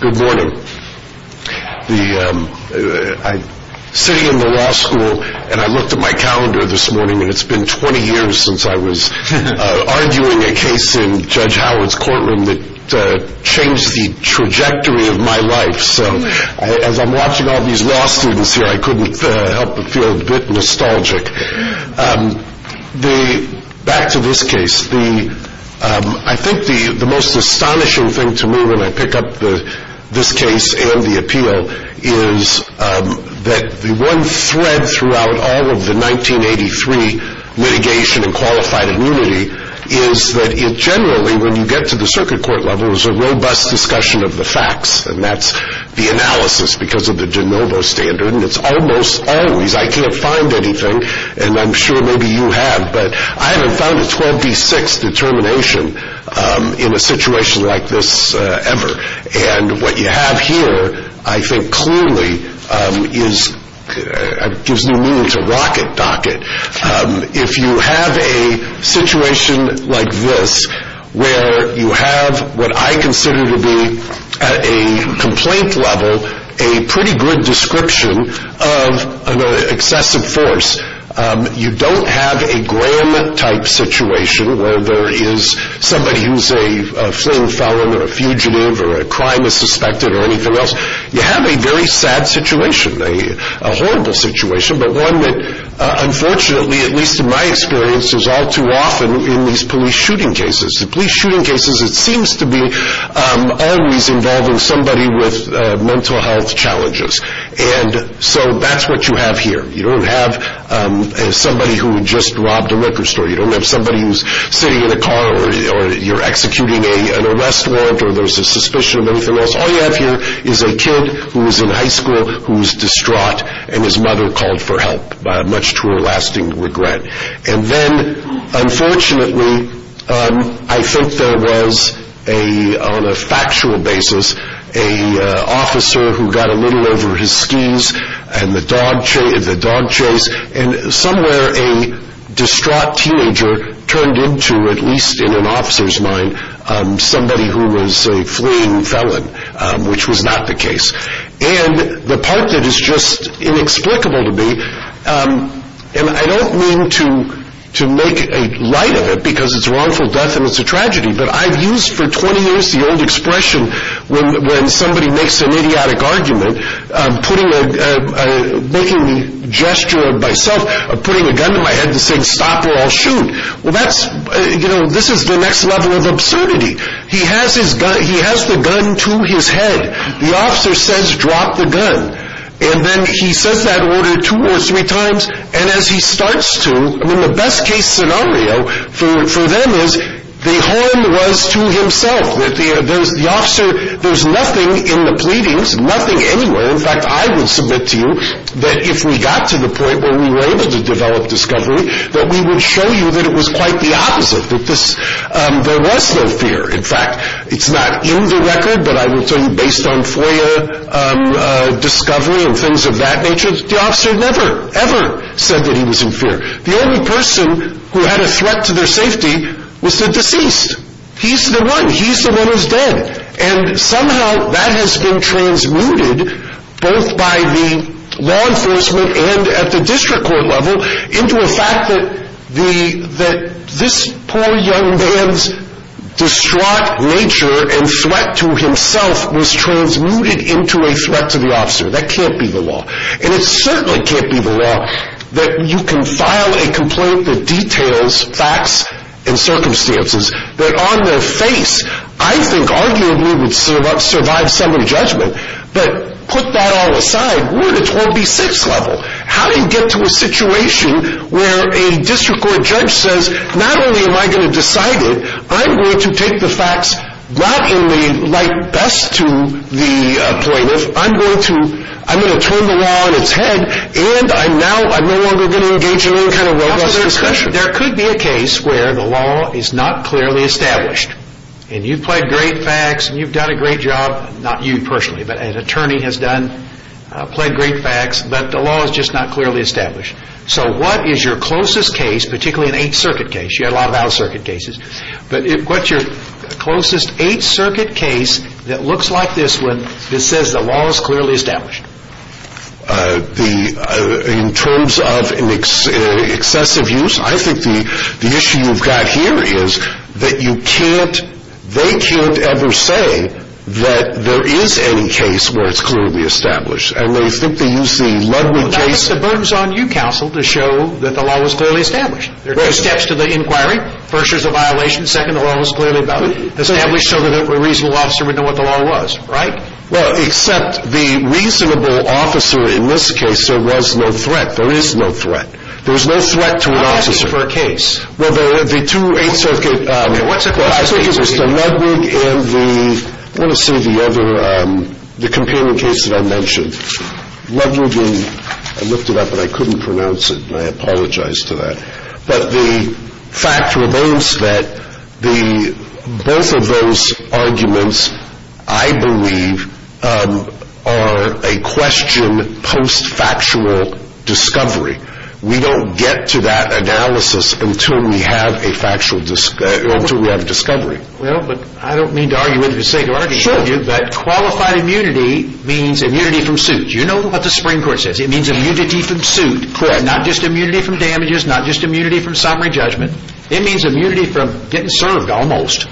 Good morning. I'm sitting in the law school and I looked at my calendar this morning and it's been 20 years since I was arguing a case in Judge Howard's courtroom that changed the trajectory of my life. So as I'm watching all these law students here, I couldn't help but feel a bit nostalgic. Back to this case, I think the most astonishing thing to me when I pick up the this case and the appeal is that the one thread throughout all of the 1983 mitigation and qualified immunity is that it generally, when you get to the circuit court level, is a robust discussion of the facts. And that's the analysis because of the de novo standard. And it's almost always, I can't find anything and I'm sure maybe you have, but I haven't found a 12 v 6 determination in a situation like this ever. And what you have here, I think clearly is, gives new meaning to rock it, dock it. If you have a situation like this, where you have what I consider to be at a complaint level, a pretty good description of an excessive force. You don't have a Graham type situation where there is somebody who's a fleeing felon or a fugitive or a crime is suspected or anything else. You have a very sad situation, a horrible situation, but one that unfortunately, at least in my experience, is all too often in these police shooting cases. The police shooting cases, it seems to be always involving somebody with mental health challenges. And so that's what you have here. You don't have somebody who just robbed a liquor store. You don't have somebody who's sitting in a car or you're executing an arrest warrant or there's a suspicion of anything else. All you have here is a kid who's in high school who's distraught and his mother called for help by much to her lasting regret. And then unfortunately, I think there was, on a factual basis, an officer who got a little over his skis and the dog chase and somewhere a distraught teenager turned into, at least in an officer's mind, somebody who was a fleeing felon, which was not the case. And the part that is just inexplicable to me, and I don't mean to make a light of it because it's wrongful death and it's a tragedy, but I've used for 20 years the old expression, when somebody makes an idiotic argument, making the gesture of myself putting a gun to my head and saying, stop or I'll shoot. Well, that's, you know, this is the next level of absurdity. He has the gun to his head. The officer says, drop the gun. And then he says that order two or three times. And as he starts to, I mean, the best case scenario for them is the harm was to himself. There's nothing in the pleadings, nothing anywhere. In fact, I would submit to you that if we got to the point where we were able to develop discovery, that we would show you that it was quite the opposite, that there was no fear. In fact, it's not in the record, but I will tell you based on FOIA discovery and things of that nature, the officer never, ever said that he was in fear. The only person who had a threat to their safety was the deceased. He's the one. He's the one who's dead. And somehow that has been transmuted both by the law enforcement and at the district court level into a fact that this poor young man's distraught nature and self was transmuted into a threat to the officer. That can't be the law. And it certainly can't be the law that you can file a complaint that details facts and circumstances that on their face, I think arguably would survive summary judgment. But put that all aside, we're at a 12B6 level. How do you get to a situation where a district court judge says, not only am I going to decide it, I'm going to take the facts not only like best to the plaintiff, I'm going to turn the law on its head, and now I'm no longer going to engage in any kind of robust discussion? There could be a case where the law is not clearly established. And you've pled great facts, and you've done a great job, not you personally, but an attorney has done, pled great facts, but the law is just not clearly established. So what is your closest case, particularly an Eighth Circuit case? You had a closest Eighth Circuit case that looks like this one that says the law is clearly established. In terms of excessive use, I think the issue you've got here is that you can't, they can't ever say that there is any case where it's clearly established. And they simply use the Ludwig case. That puts the burdens on you, counsel, to show that the law was clearly established. There are two steps to the inquiry. First, there's a violation. Second, the law was clearly established so that a reasonable officer would know what the law was, right? Well, except the reasonable officer in this case, there was no threat. There is no threat. There's no threat to an officer. I'm asking for a case. Well, the two Eighth Circuit cases, the Ludwig and the, I want to say the other, the companion case that I mentioned. Ludwig and, I looked it up, but I couldn't pronounce it, I apologize for that. But the fact remains that both of those arguments, I believe, are a question post-factual discovery. We don't get to that analysis until we have a discovery. Well, but I don't mean to argue with you, say to argue with you that qualified immunity means immunity from suit. You know what the Supreme Court says. It means immunity from suit. Correct. Not just immunity from damages, not just immunity from summary judgment. It means immunity from getting served, almost.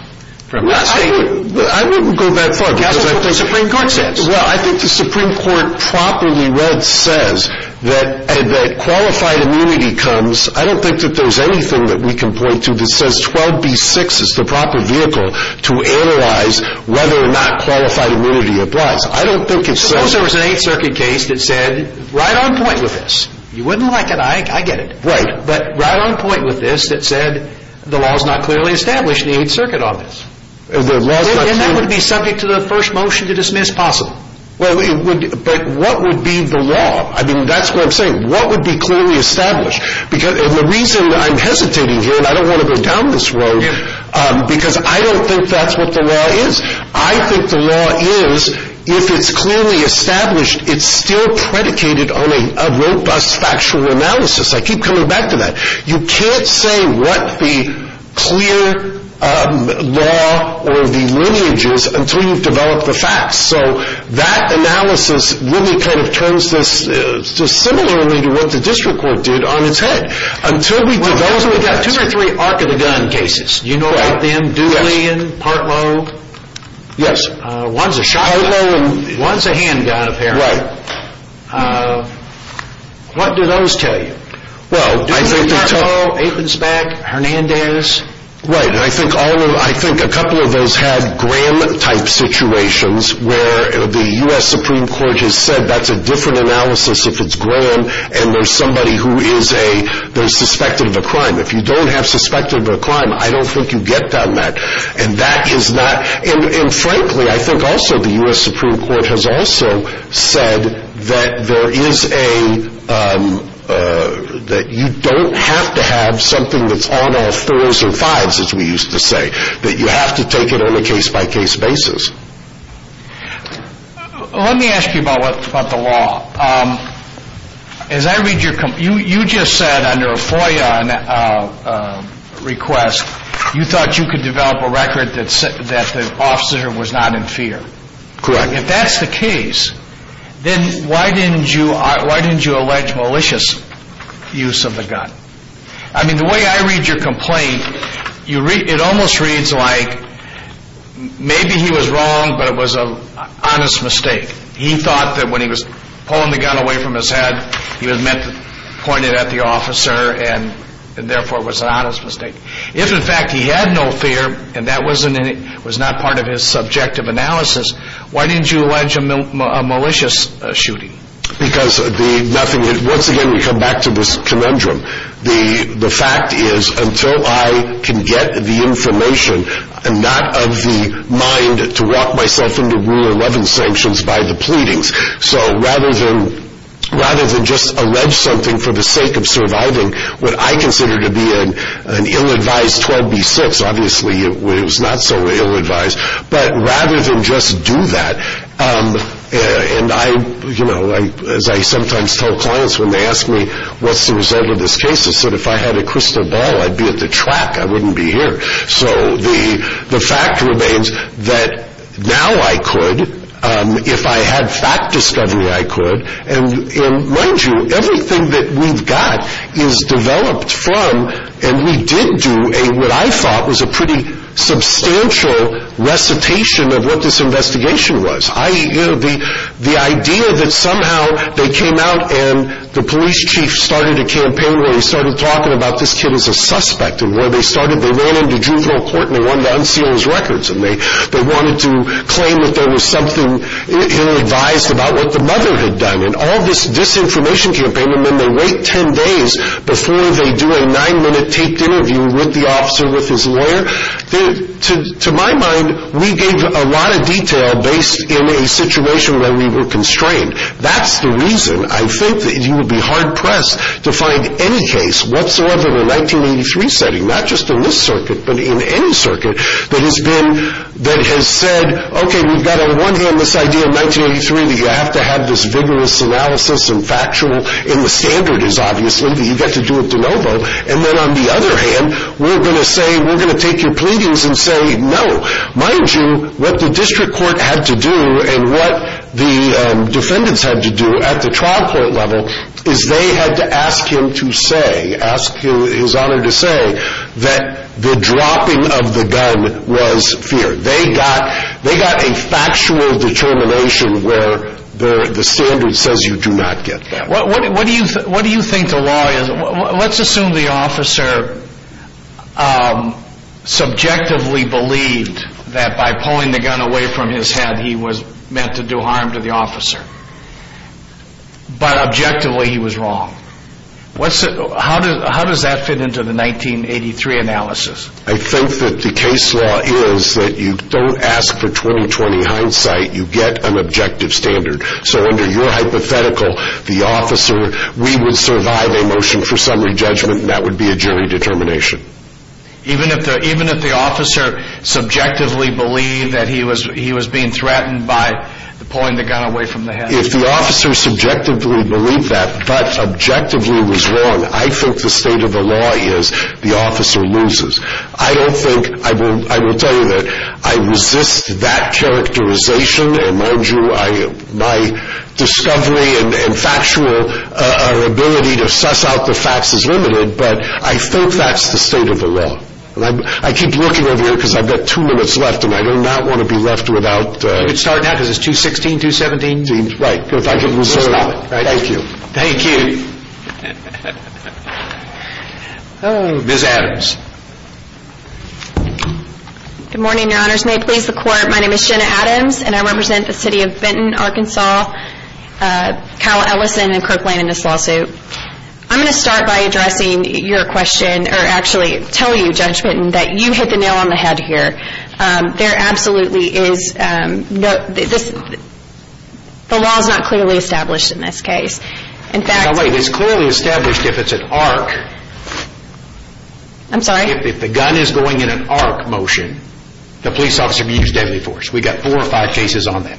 I wouldn't go that far. That's what the Supreme Court says. Well, I think the Supreme Court properly read says that qualified immunity comes, I don't think that there's anything that we can point to that says 12B6 is the proper vehicle to analyze whether or not qualified immunity applies. I don't think it says... Suppose there was an Eighth Circuit case that said, right on point with this, you wouldn't like it, I get it. Right. But right on point with this that said the law is not clearly established in the Eighth Circuit on this. And that would be subject to the first motion to dismiss possible. Well, but what would be the law? I mean, that's what I'm saying. What would be clearly established? Because the reason I'm hesitating here, and I don't want to go down this road, because I don't think that's what the law is. I think the law is, if it's clearly established, it's still predicated on a robust factual analysis. I keep coming back to that. You can't say what the clear law or the lineage is until you've developed the facts. So that analysis really kind of turns this to similarly to what the district court did on its head. Until we develop the facts. Well, we've got two or three arc of the gun cases. You know about them? Yes. Dooley and Partlow. Yes. One's a shotgun. Partlow and... One's a handgun, apparently. Right. What do those tell you? Dooley and Partlow, Aikensback, Hernandez. Right. And I think a couple of those had Graham-type situations where the U.S. Supreme Court has said that's a different analysis if it's Graham and there's somebody who is a, they're suspected of a crime. If you don't have suspected of a crime, I don't think you get done that. And that is not... And frankly, I think also the U.S. Supreme Court has said that there is a, that you don't have to have something that's on all thurs or fives as we used to say. That you have to take it on a case by case basis. Let me ask you about the law. As I read your... You just said under a FOIA request, you thought you could develop a record that the officer was not in fear. Correct. If that's the case, then why didn't you, why didn't you allege malicious use of the gun? I mean, the way I read your complaint, you read, it almost reads like maybe he was wrong, but it was an honest mistake. He thought that when he was pulling the gun away from his head, he was meant to point it at the officer and therefore it was an honest mistake. If in fact he had no fear and that wasn't any, was not part of his subjective analysis, why didn't you allege a malicious shooting? Because the nothing... Once again, we come back to this conundrum. The fact is until I can get the information, I'm not of the mind to walk myself into rule 11 sanctions by the pleadings. So rather than, rather than just allege something for the sake of surviving, what I consider to be an ill-advised 12B6, obviously it was not so ill-advised, but rather than just do that, and I, you know, as I sometimes tell clients when they ask me, what's the result of this case? I said, if I had a crystal ball, I'd be at the track. I wouldn't be here. So the fact remains that now I could, if I had fact discovery, I could. And mind you, everything that we've got is developed from, and we did do a, what I thought was a pretty substantial recitation of what this investigation was. I, you know, the, the idea that somehow they came out and the police chief started a campaign where he started talking about this kid as a suspect, and where they started, they ran into juvenile court and they wanted to unseal his records, and they, they wanted to claim that there was something ill-advised about what the mother had done, and all this disinformation campaign, and then they wait 10 days before they do a nine-minute taped interview with the officer, with his lawyer. To my mind, we gave a lot of detail based in a situation where we were constrained. That's the reason I think that you would be hard-pressed to find any case whatsoever in a 1983 setting, not just in this circuit, but in any circuit that has been, that has said, okay, we've got a one-hand this idea in 1983 that you have to have this vigorous analysis and factual, and the standard is obviously that you've got to do it de novo, and then on the other hand, we're going to say, we're going to take your pleadings and say no. Mind you, what the district court had to do, and what the defendants had to do at the trial court level, is they had to ask him to say, ask his honor to say, that the dropping of the gun was fear. They got, they got a factual determination where the standard says you do not get that. What do you think the law is? Let's assume the officer subjectively believed that by pulling the gun away from his head he was meant to do harm to the officer, but objectively he was wrong. How does that fit into the 1983 standard? So under your hypothetical, the officer, we would survive a motion for summary judgment, and that would be a jury determination. Even if the officer subjectively believed that he was being threatened by pulling the gun away from the head? If the officer subjectively believed that, but objectively was wrong, I think the state of the law is the officer loses. I don't think, I will tell you that I resist that characterization, and mind you, my discovery and factual ability to suss out the facts is limited, but I think that's the state of the law. I keep looking over here because I've got two minutes left, and I do not want to be left without. We can start now because it's 2.16, 2.17? Right, if I can reserve it. Thank you. Thank you. Ms. Adams. Good morning, your honors. May it please the court, my name is Jenna Adams, and I represent the city of Benton, Arkansas, Kyle Ellison, and Kirk Lane in this lawsuit. I'm going to start by addressing your question, or actually tell you, Judge Benton, that you hit the nail on the head here. There absolutely is, the law is not clearly established in this case. No, wait, it's clearly established if it's an arc. I'm sorry? If the gun is going in an arc motion, the police officer can use deadly force. We've got four or five cases on that.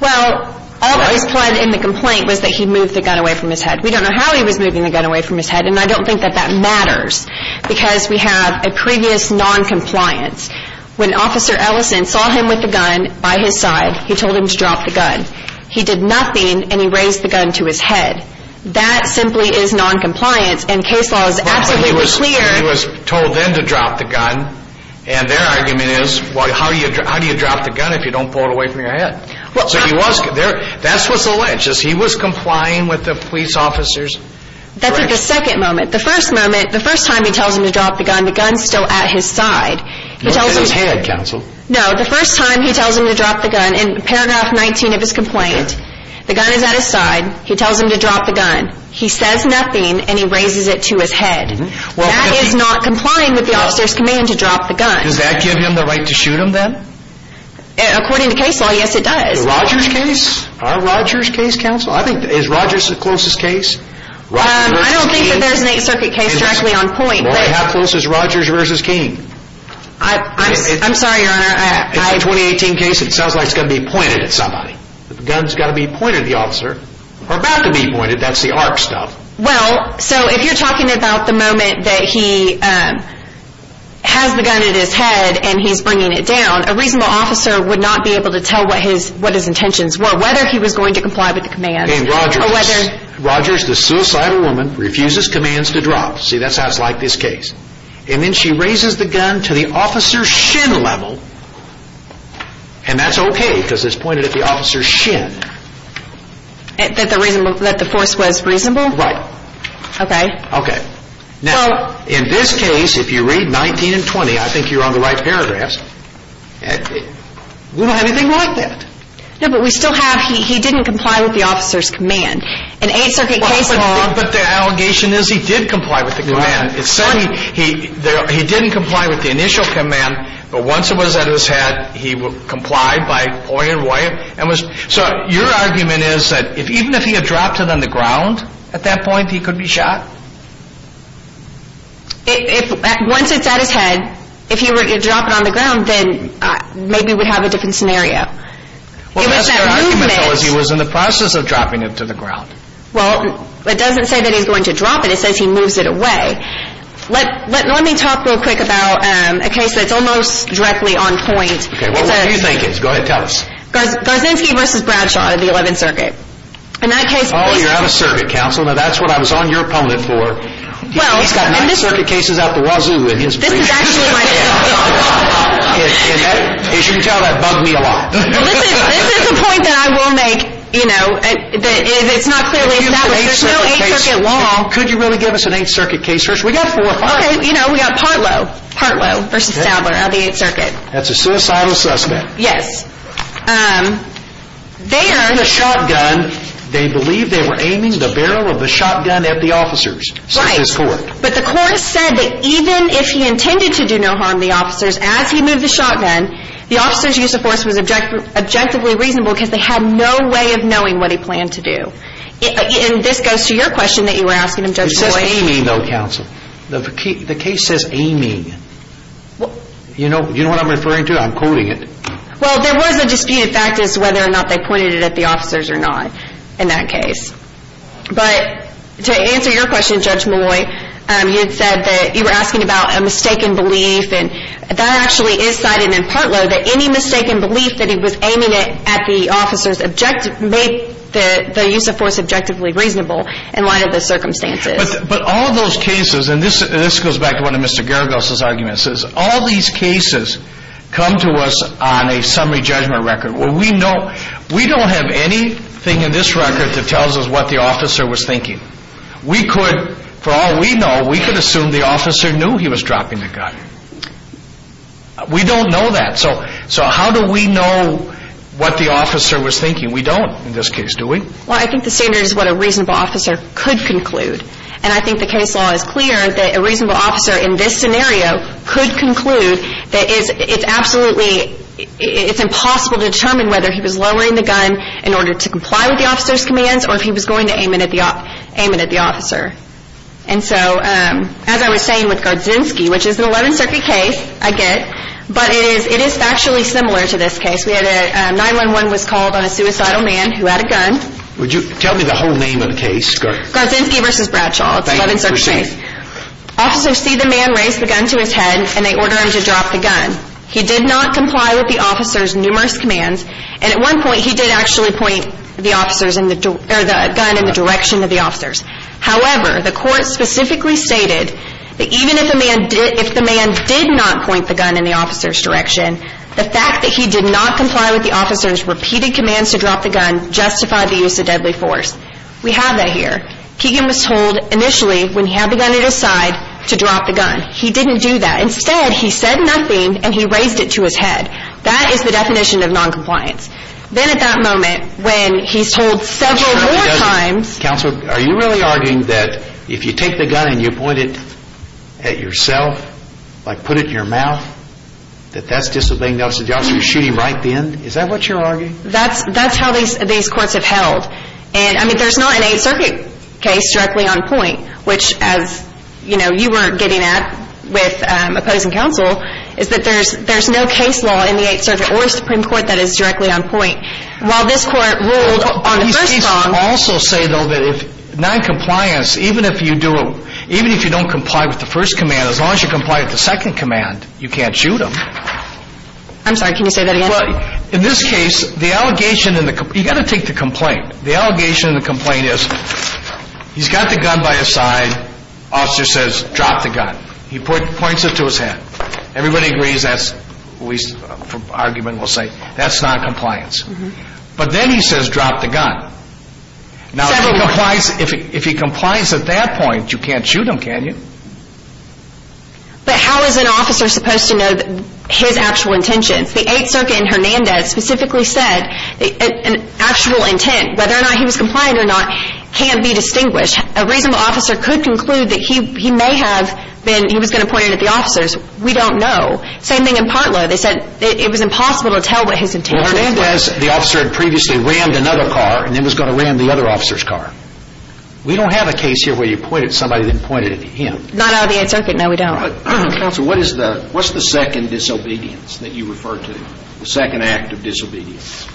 Well, all that was implied in the complaint was that he moved the gun away from his head. We don't know how he was moving the gun away from his head, and I don't think that that matters, because we have a previous noncompliance. When Officer Ellison saw him with the gun by his side, he told him to drop the gun. He did nothing, and he raised the gun to his head. That simply is noncompliance, and case law is absolutely clear. He was told then to drop the gun, and their argument is, how do you drop the gun if you don't pull it away from your head? That's what's alleged, is he was complying with the police officers? That's at the second moment. The first moment, the first time he tells him to drop the gun, the gun's still at his side. Not at his head, counsel. No, the first time he tells him to drop the gun, in paragraph 19 of his complaint, the gun is at his side. He tells him to drop the gun. He says nothing, and he raises it to his head. That is not complying with the officer's command to drop the gun. Does that give him the right to shoot him then? According to case law, yes, it does. Roger's case? Our Roger's case, counsel? Is Roger's the closest case? I don't think that there's an Eighth Circuit case directly on point. Well, how close is Roger's versus King? I'm sorry, your honor. In my 2018 case, it sounds like it's going to be pointed at somebody. The gun's got to be pointed at the officer, or about to be pointed. That's the ARC stuff. Well, so if you're talking about the moment that he has the gun at his head, and he's bringing it down, a reasonable officer would not be whether he was going to comply with the command. Roger's the suicidal woman, refuses commands to drop. See, that's how it's like this case. And then she raises the gun to the officer's shin level. And that's okay, because it's pointed at the officer's shin. That the force was reasonable? Right. Okay. Okay. Now, in this case, if you read 19 and 20, I think you're on the right paragraphs, we don't have anything like that. But we still have, he didn't comply with the officer's command. An Eighth Circuit case law... But the allegation is he did comply with the command. It's saying he didn't comply with the initial command, but once it was at his head, he complied by pointing it away. So your argument is that even if he had dropped it on the ground, at that point, he could be shot? Once it's at his head, if he were to drop it on the ground, then maybe we'd have a different scenario. Well, that's their argument, though, is he was in the process of dropping it to the ground. Well, it doesn't say that he's going to drop it. It says he moves it away. Let me talk real quick about a case that's almost directly on point. Okay, what do you think it is? Go ahead, tell us. Garzinski v. Bradshaw of the Eleventh Circuit. In that case... Oh, you're out of circuit, counsel. Now, that's what I was on your opponent for. He's got Ninth Circuit cases out the wazoo in his briefcase. This is actually my... And as you can tell, that bugged me a lot. This is a point that I will make, you know, it's not clearly established. There's no Eighth Circuit law. Could you really give us an Eighth Circuit case? First, we got four. Okay, you know, we got Partlow v. Stadler of the Eighth Circuit. That's a suicidal suspect. Yes. There... In the shotgun, they believe they were aiming the barrel of the shotgun at the officers, says this court. But the court said that even if he intended to do no harm to the officers as he moved the shotgun, the officers' use of force was objectively reasonable because they had no way of knowing what he planned to do. And this goes to your question that you were asking him, Judge Malloy. It says aiming, though, counsel. The case says aiming. You know what I'm referring to? I'm quoting it. Well, there was a disputed fact as to whether or not they pointed it at the officers or not in that case. But to answer your question, Judge Malloy, you had said that you were asking about a mistaken belief, and that actually is cited in Partlow, that any mistaken belief that he was aiming it at the officers made the use of force objectively reasonable in light of the circumstances. But all of those cases, and this goes back to one of Mr. Geragos' arguments, is all these cases come to us on a summary judgment record where we don't have anything in this record that tells us what the officer was thinking. We could, for all we know, we could assume the officer knew he was dropping the gun. We don't know that. So how do we know what the officer was thinking? We don't in this case, do we? Well, I think the standard is what a reasonable officer could conclude. And I think the case law is clear that a reasonable officer in this scenario could conclude that it's absolutely, it's impossible to determine whether he was lowering the gun in order to comply with the officer's commands or if he was going to aim it at the officer. And so, as I was saying with Garczynski, which is an 11th Circuit case, I get, but it is factually similar to this case. We had a 9-1-1 was called on a suicidal man who had a gun. Would you tell me the whole name of the case? Garczynski v. Bradshaw. It's an 11th Circuit case. Officers see the man raise the gun to his head and they order him to drop the gun. He did not comply with the officer's numerous commands. And at one point, he did actually point the officers in the, or the gun in the direction of the officers. However, the court specifically stated that even if a man did, if the man did not point the gun in the officer's direction, the fact that he did not comply with the officer's repeated commands to drop the gun justified the use of deadly force. We have that here. Keegan was told initially, when he had the gun at his side, to drop the gun. He didn't do that. Instead, he said nothing and he raised it to his head. That is the definition of non-compliance. Then at that moment, when he's told several more times. Counsel, are you really arguing that if you take the gun and you point it at yourself, like put it in your mouth, that that's just a thing the officer's shooting right then? Is that what you're arguing? That's, that's how these, these courts have held. And I mean, there's not an 8th Circuit case directly on point, which as you know, you weren't getting at with opposing counsel, is that there's, there's no case law in the 8th Circuit or Supreme Court that is directly on point. While this court ruled on the first song. Also say though that if non-compliance, even if you do it, even if you don't comply with the first command, as long as you comply with the second command, you can't shoot them. I'm sorry, can you say that again? In this case, the allegation in the, you got to take the complaint. The allegation in the complaint is, he's got the gun by his side. Officer says, drop the gun. He points it to his head. Everybody agrees that's, argument will say, that's not compliance. But then he says, drop the gun. Now if he complies, if he complies at that point, you can't shoot him, can you? But how is an officer supposed to know his actual intentions? The 8th Circuit in Hernandez specifically said, an actual intent, whether or not he was compliant or not, can't be distinguished. A reasonable officer could conclude that he, may have been, he was going to point it at the officers. We don't know. Same thing in Partlow. They said, it was impossible to tell what his intentions were. Hernandez, the officer had previously rammed another car, and then was going to ram the other officer's car. We don't have a case here where you pointed, somebody then pointed at him. Not out of the 8th Circuit, no we don't. But counsel, what is the, what's the second disobedience that you refer to? The second act of disobedience.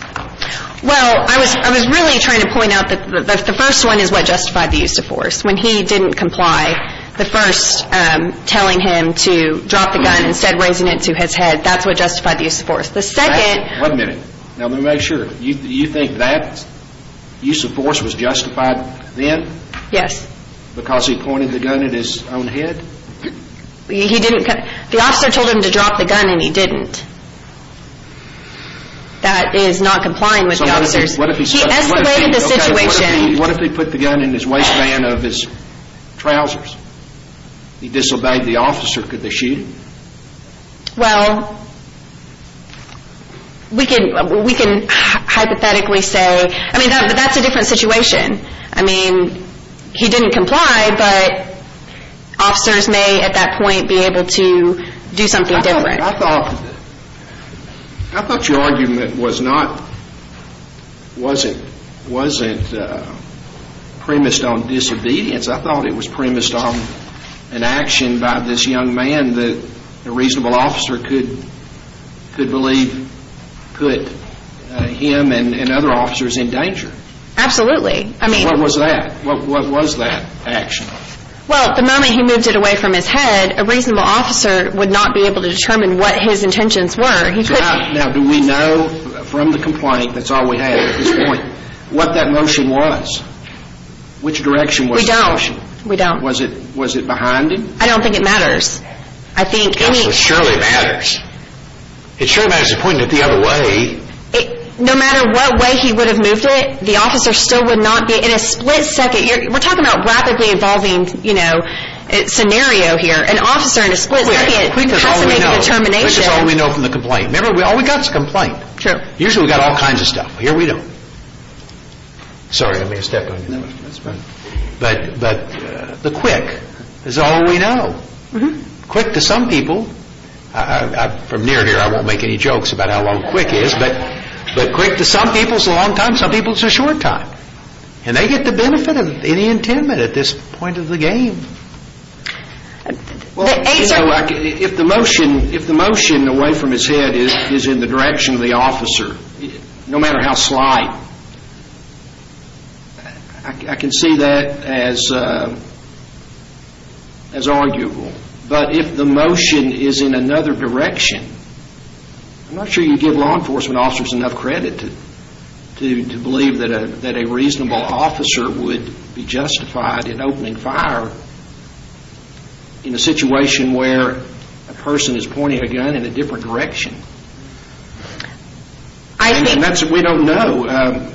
Well, I was, I was really trying to point out that, the first one is what justified the use of force. When he didn't comply, the first, telling him to drop the gun, instead of raising it to his head, that's what justified the use of force. The second. One minute. Now let me make sure. You, you think that, use of force was justified then? Yes. Because he pointed the gun at his own head? He didn't, the officer told him to drop the gun and he didn't. That is not complying with the officers. What if he said, he escalated the situation. What if he put the gun in his waistband of his trousers? He disobeyed the officer, could they shoot him? Well, we can, we can hypothetically say, I mean, that's a different situation. I mean, he didn't comply, but officers may at that point, be able to do something different. I thought, I thought your argument was not, wasn't, wasn't premised on disobedience. I thought it was premised on an action by this young man that a reasonable officer could, could believe, could him and other officers in danger. Absolutely. I mean. What was that? What was that action? Well, the moment he moved it away from his head, a reasonable officer would not be able to determine what his intentions were. He couldn't. Now do we know from the complaint, that's all we have at this point, what that motion was? Which direction was the motion? We don't. We don't. Was it, was it behind him? I don't think it matters. I think. It surely matters. It surely matters, he pointed it the other way. No matter what way he would have moved it, the officer still would not be, in a split second, we're talking about rapidly evolving, you know, scenario here. An officer in a split second, could possibly make a determination. This is all we know from the complaint. Remember, all we got is a complaint. Sure. Usually we got all kinds of stuff. Here we don't. Sorry, I made a step on you. But, but the quick is all we know. Quick to some people, from near and dear, I won't make any jokes about how long quick is, but, but quick to some people is a long time, some people it's a short time. And they get the benefit of any intent at this point of the game. Well, if the motion, if the motion away from his head is, is in the direction of the officer, no matter how slight, I can see that as, as arguable. But if the motion is in another direction, I'm not sure you give law enforcement officers enough credit to, to, to believe that a, that a reasonable officer would be justified in opening fire in a situation where a person is pointing a gun in a different direction. I think, and that's, we don't know.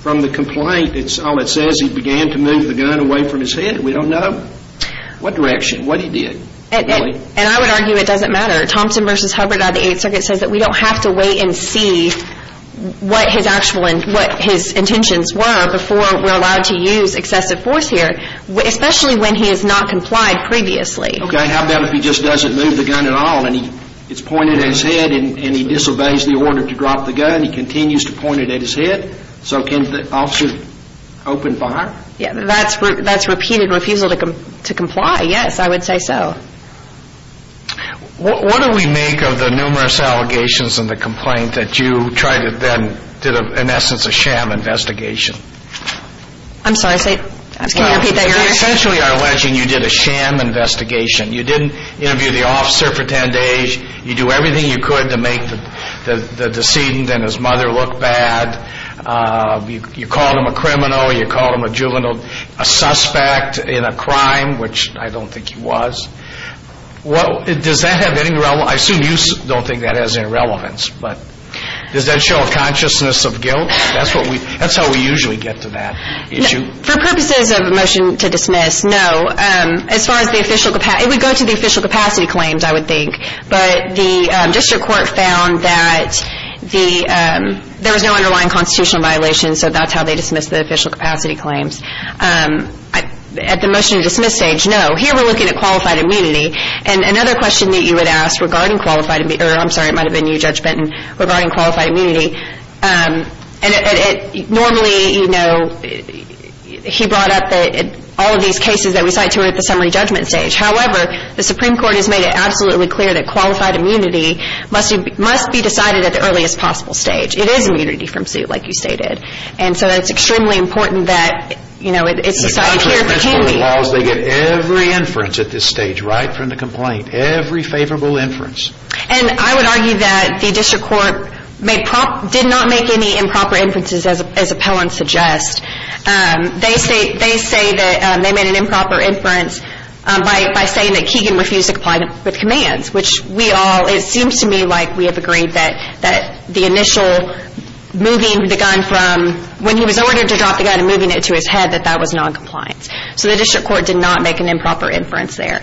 From the complaint, it's all it says. He began to move the gun away from his head. We don't know what direction, what he did. And I would argue it doesn't matter. Thompson versus Hubbard out of the Eighth Circuit says that we don't have to wait and see what his actual and what his intentions were before we're allowed to use excessive force here, especially when he has not complied previously. Okay, how about if he just doesn't move the gun at all and he, it's pointed at his head and he disobeys the order to drop the gun, he continues to point it at his head, so can the officer open fire? Yeah, that's, that's repeated refusal to comply. Yes, I would say so. What do we make of the numerous allegations in the complaint that you try to then did an essence of sham investigation? I'm sorry, say, can you repeat that again? Essentially, you did a sham investigation. You didn't interview the officer for 10 days. You do everything you could to make the decedent and his mother look bad. You called him a criminal. You called him a juvenile, a suspect in a crime, which I don't think he was. What, does that have any relevance? I assume you don't think that has any relevance, but does that show a consciousness of guilt? That's what we, that's how we usually get to that issue. For purposes of a motion to dismiss, no. As far as the official capacity, it would go to the official capacity claims, I would think. But the district court found that the, there was no underlying constitutional violation, so that's how they dismissed the official capacity claims. At the motion to dismiss stage, no. Here, we're looking at qualified immunity. And another question that you had asked regarding qualified, I'm sorry, it might have been you, Judge Benton, regarding qualified immunity. And it, normally, you know, he brought up that all of these cases that we cite to it at the summary judgment stage. However, the Supreme Court has made it absolutely clear that qualified immunity must be decided at the earliest possible stage. It is immunity from suit, like you stated. And so, it's extremely important that, you know, it's decided here for Keegan. The country officially allows they get every inference at this stage, right from the complaint, every favorable inference. And I would argue that the district court did not make any improper inferences, as appellants suggest. They say that they made an improper inference by saying that Keegan refused to comply with commands, which we all, it seems to me like we have agreed that the initial moving the gun from, when he was ordered to drop the gun and moving it to his head, that that was noncompliance. So, the district court did not make an improper inference there.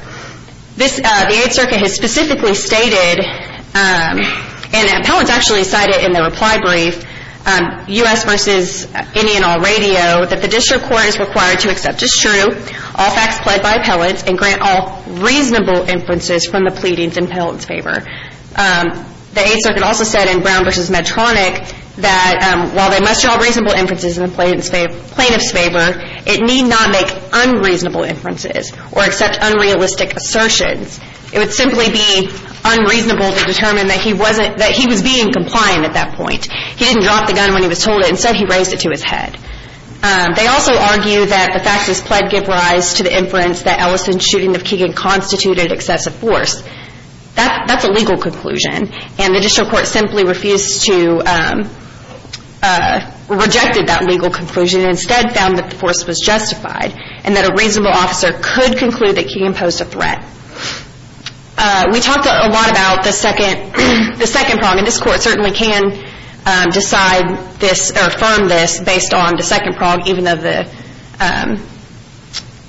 This, the Eighth Circuit has specifically stated, and appellants actually cite it in the reply brief, U.S. versus any and all radio, that the district court is required to accept as true all facts pled by appellants and grant all reasonable inferences from the pleadings in appellant's favor. The Eighth Circuit also said in Brown versus Medtronic that while they must draw reasonable inferences in the plaintiff's favor, it need not make unreasonable inferences or accept unrealistic assertions. It would simply be unreasonable to determine that he was being compliant at that point. He didn't drop the gun when he was told it and so he raised it to his head. They also argue that the facts as pled give rise to the inference that Ellison's shooting of Keegan constituted excessive force. That's a legal conclusion and the district court simply refused to, rejected that legal conclusion and instead found that the force was justified and that a reasonable officer could conclude that Keegan posed a threat. We talked a lot about the second prong and this court certainly can decide this or affirm this based on the second prong even though the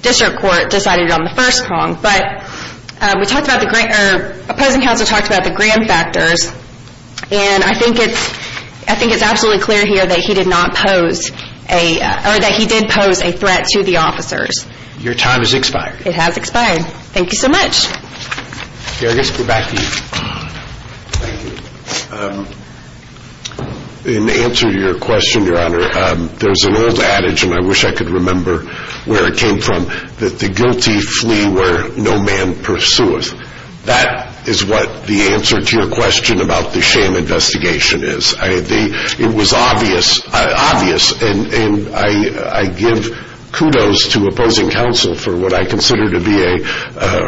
district court decided it on the first prong. But opposing counsel talked about the gram factors and I think it's absolutely clear here that he did not pose a, or that he did pose a threat to the officers. Your time has expired. It has expired. Thank you so much. Jurgis, we're back to you. In answer to your question, Your Honor, there's an old adage and I wish I could remember where it came from that the guilty flee where no man pursueth. That is what the answer to your question about the shame investigation is. It was obvious and I give kudos to opposing counsel for what I consider to be a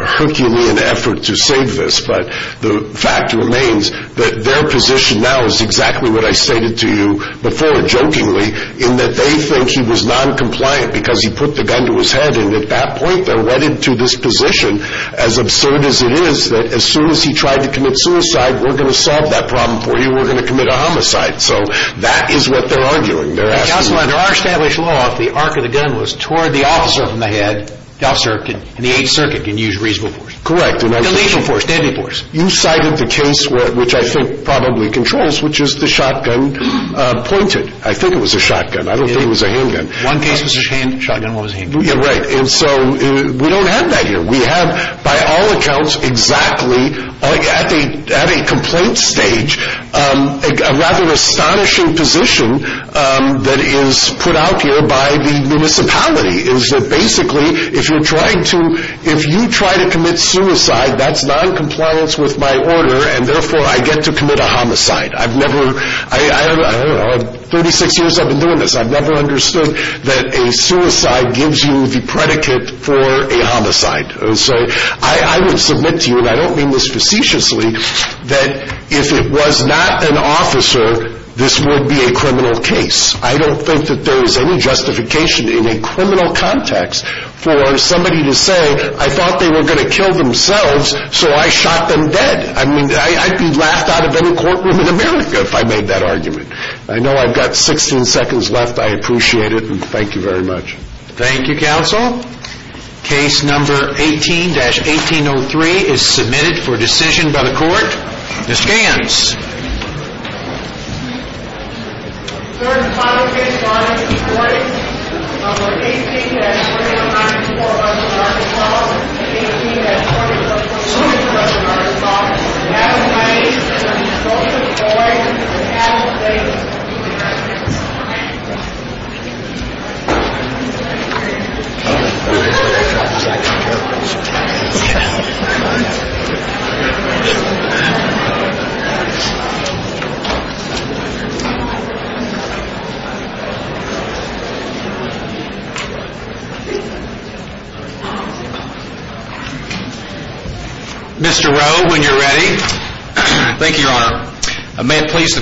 Herculean effort to save this. But the fact remains that their position now is exactly what I stated to you before jokingly in that they think he was non-compliant because he put the gun to his head and at that point they're wedded to this position as absurd as it is that as soon as he tried to commit suicide, we're going to solve that problem for you. We're going to commit a homicide. So that is what they're arguing. They're asking. Counsel, under our established law, if the arc of the gun was toward the officer from the head, the officer in the 8th circuit can use reasonable force. Correct. And I think... And legal force, deadly force. You cited the case which I think probably controls which is the shotgun pointed. I think it was a shotgun. I don't think it was a handgun. One case was a shotgun, one was a handgun. Right. And so we don't have that here. We have by all accounts exactly at a complaint stage a rather astonishing position that is put out here by the municipality is that basically if you're trying to... If you try to commit suicide, that's non-compliance with my order and therefore I get to commit a homicide. I've never... 36 years I've been doing this. I've never understood that a suicide gives you the predicate for a homicide. So I will submit to you, and I don't mean this facetiously, that if it was not an officer, this would be a criminal case. I don't think that there is any justification in a criminal context for somebody to say, I thought they were going to kill themselves so I shot them dead. I mean, I'd be laughed out of any courtroom in America if I made that argument. I know I've got 16 seconds left. I appreciate it and thank you very much. Thank you, counsel. Case number 18-1803 is submitted for decision by the court. Ms. Gants. Mr. Rowe, when you're ready.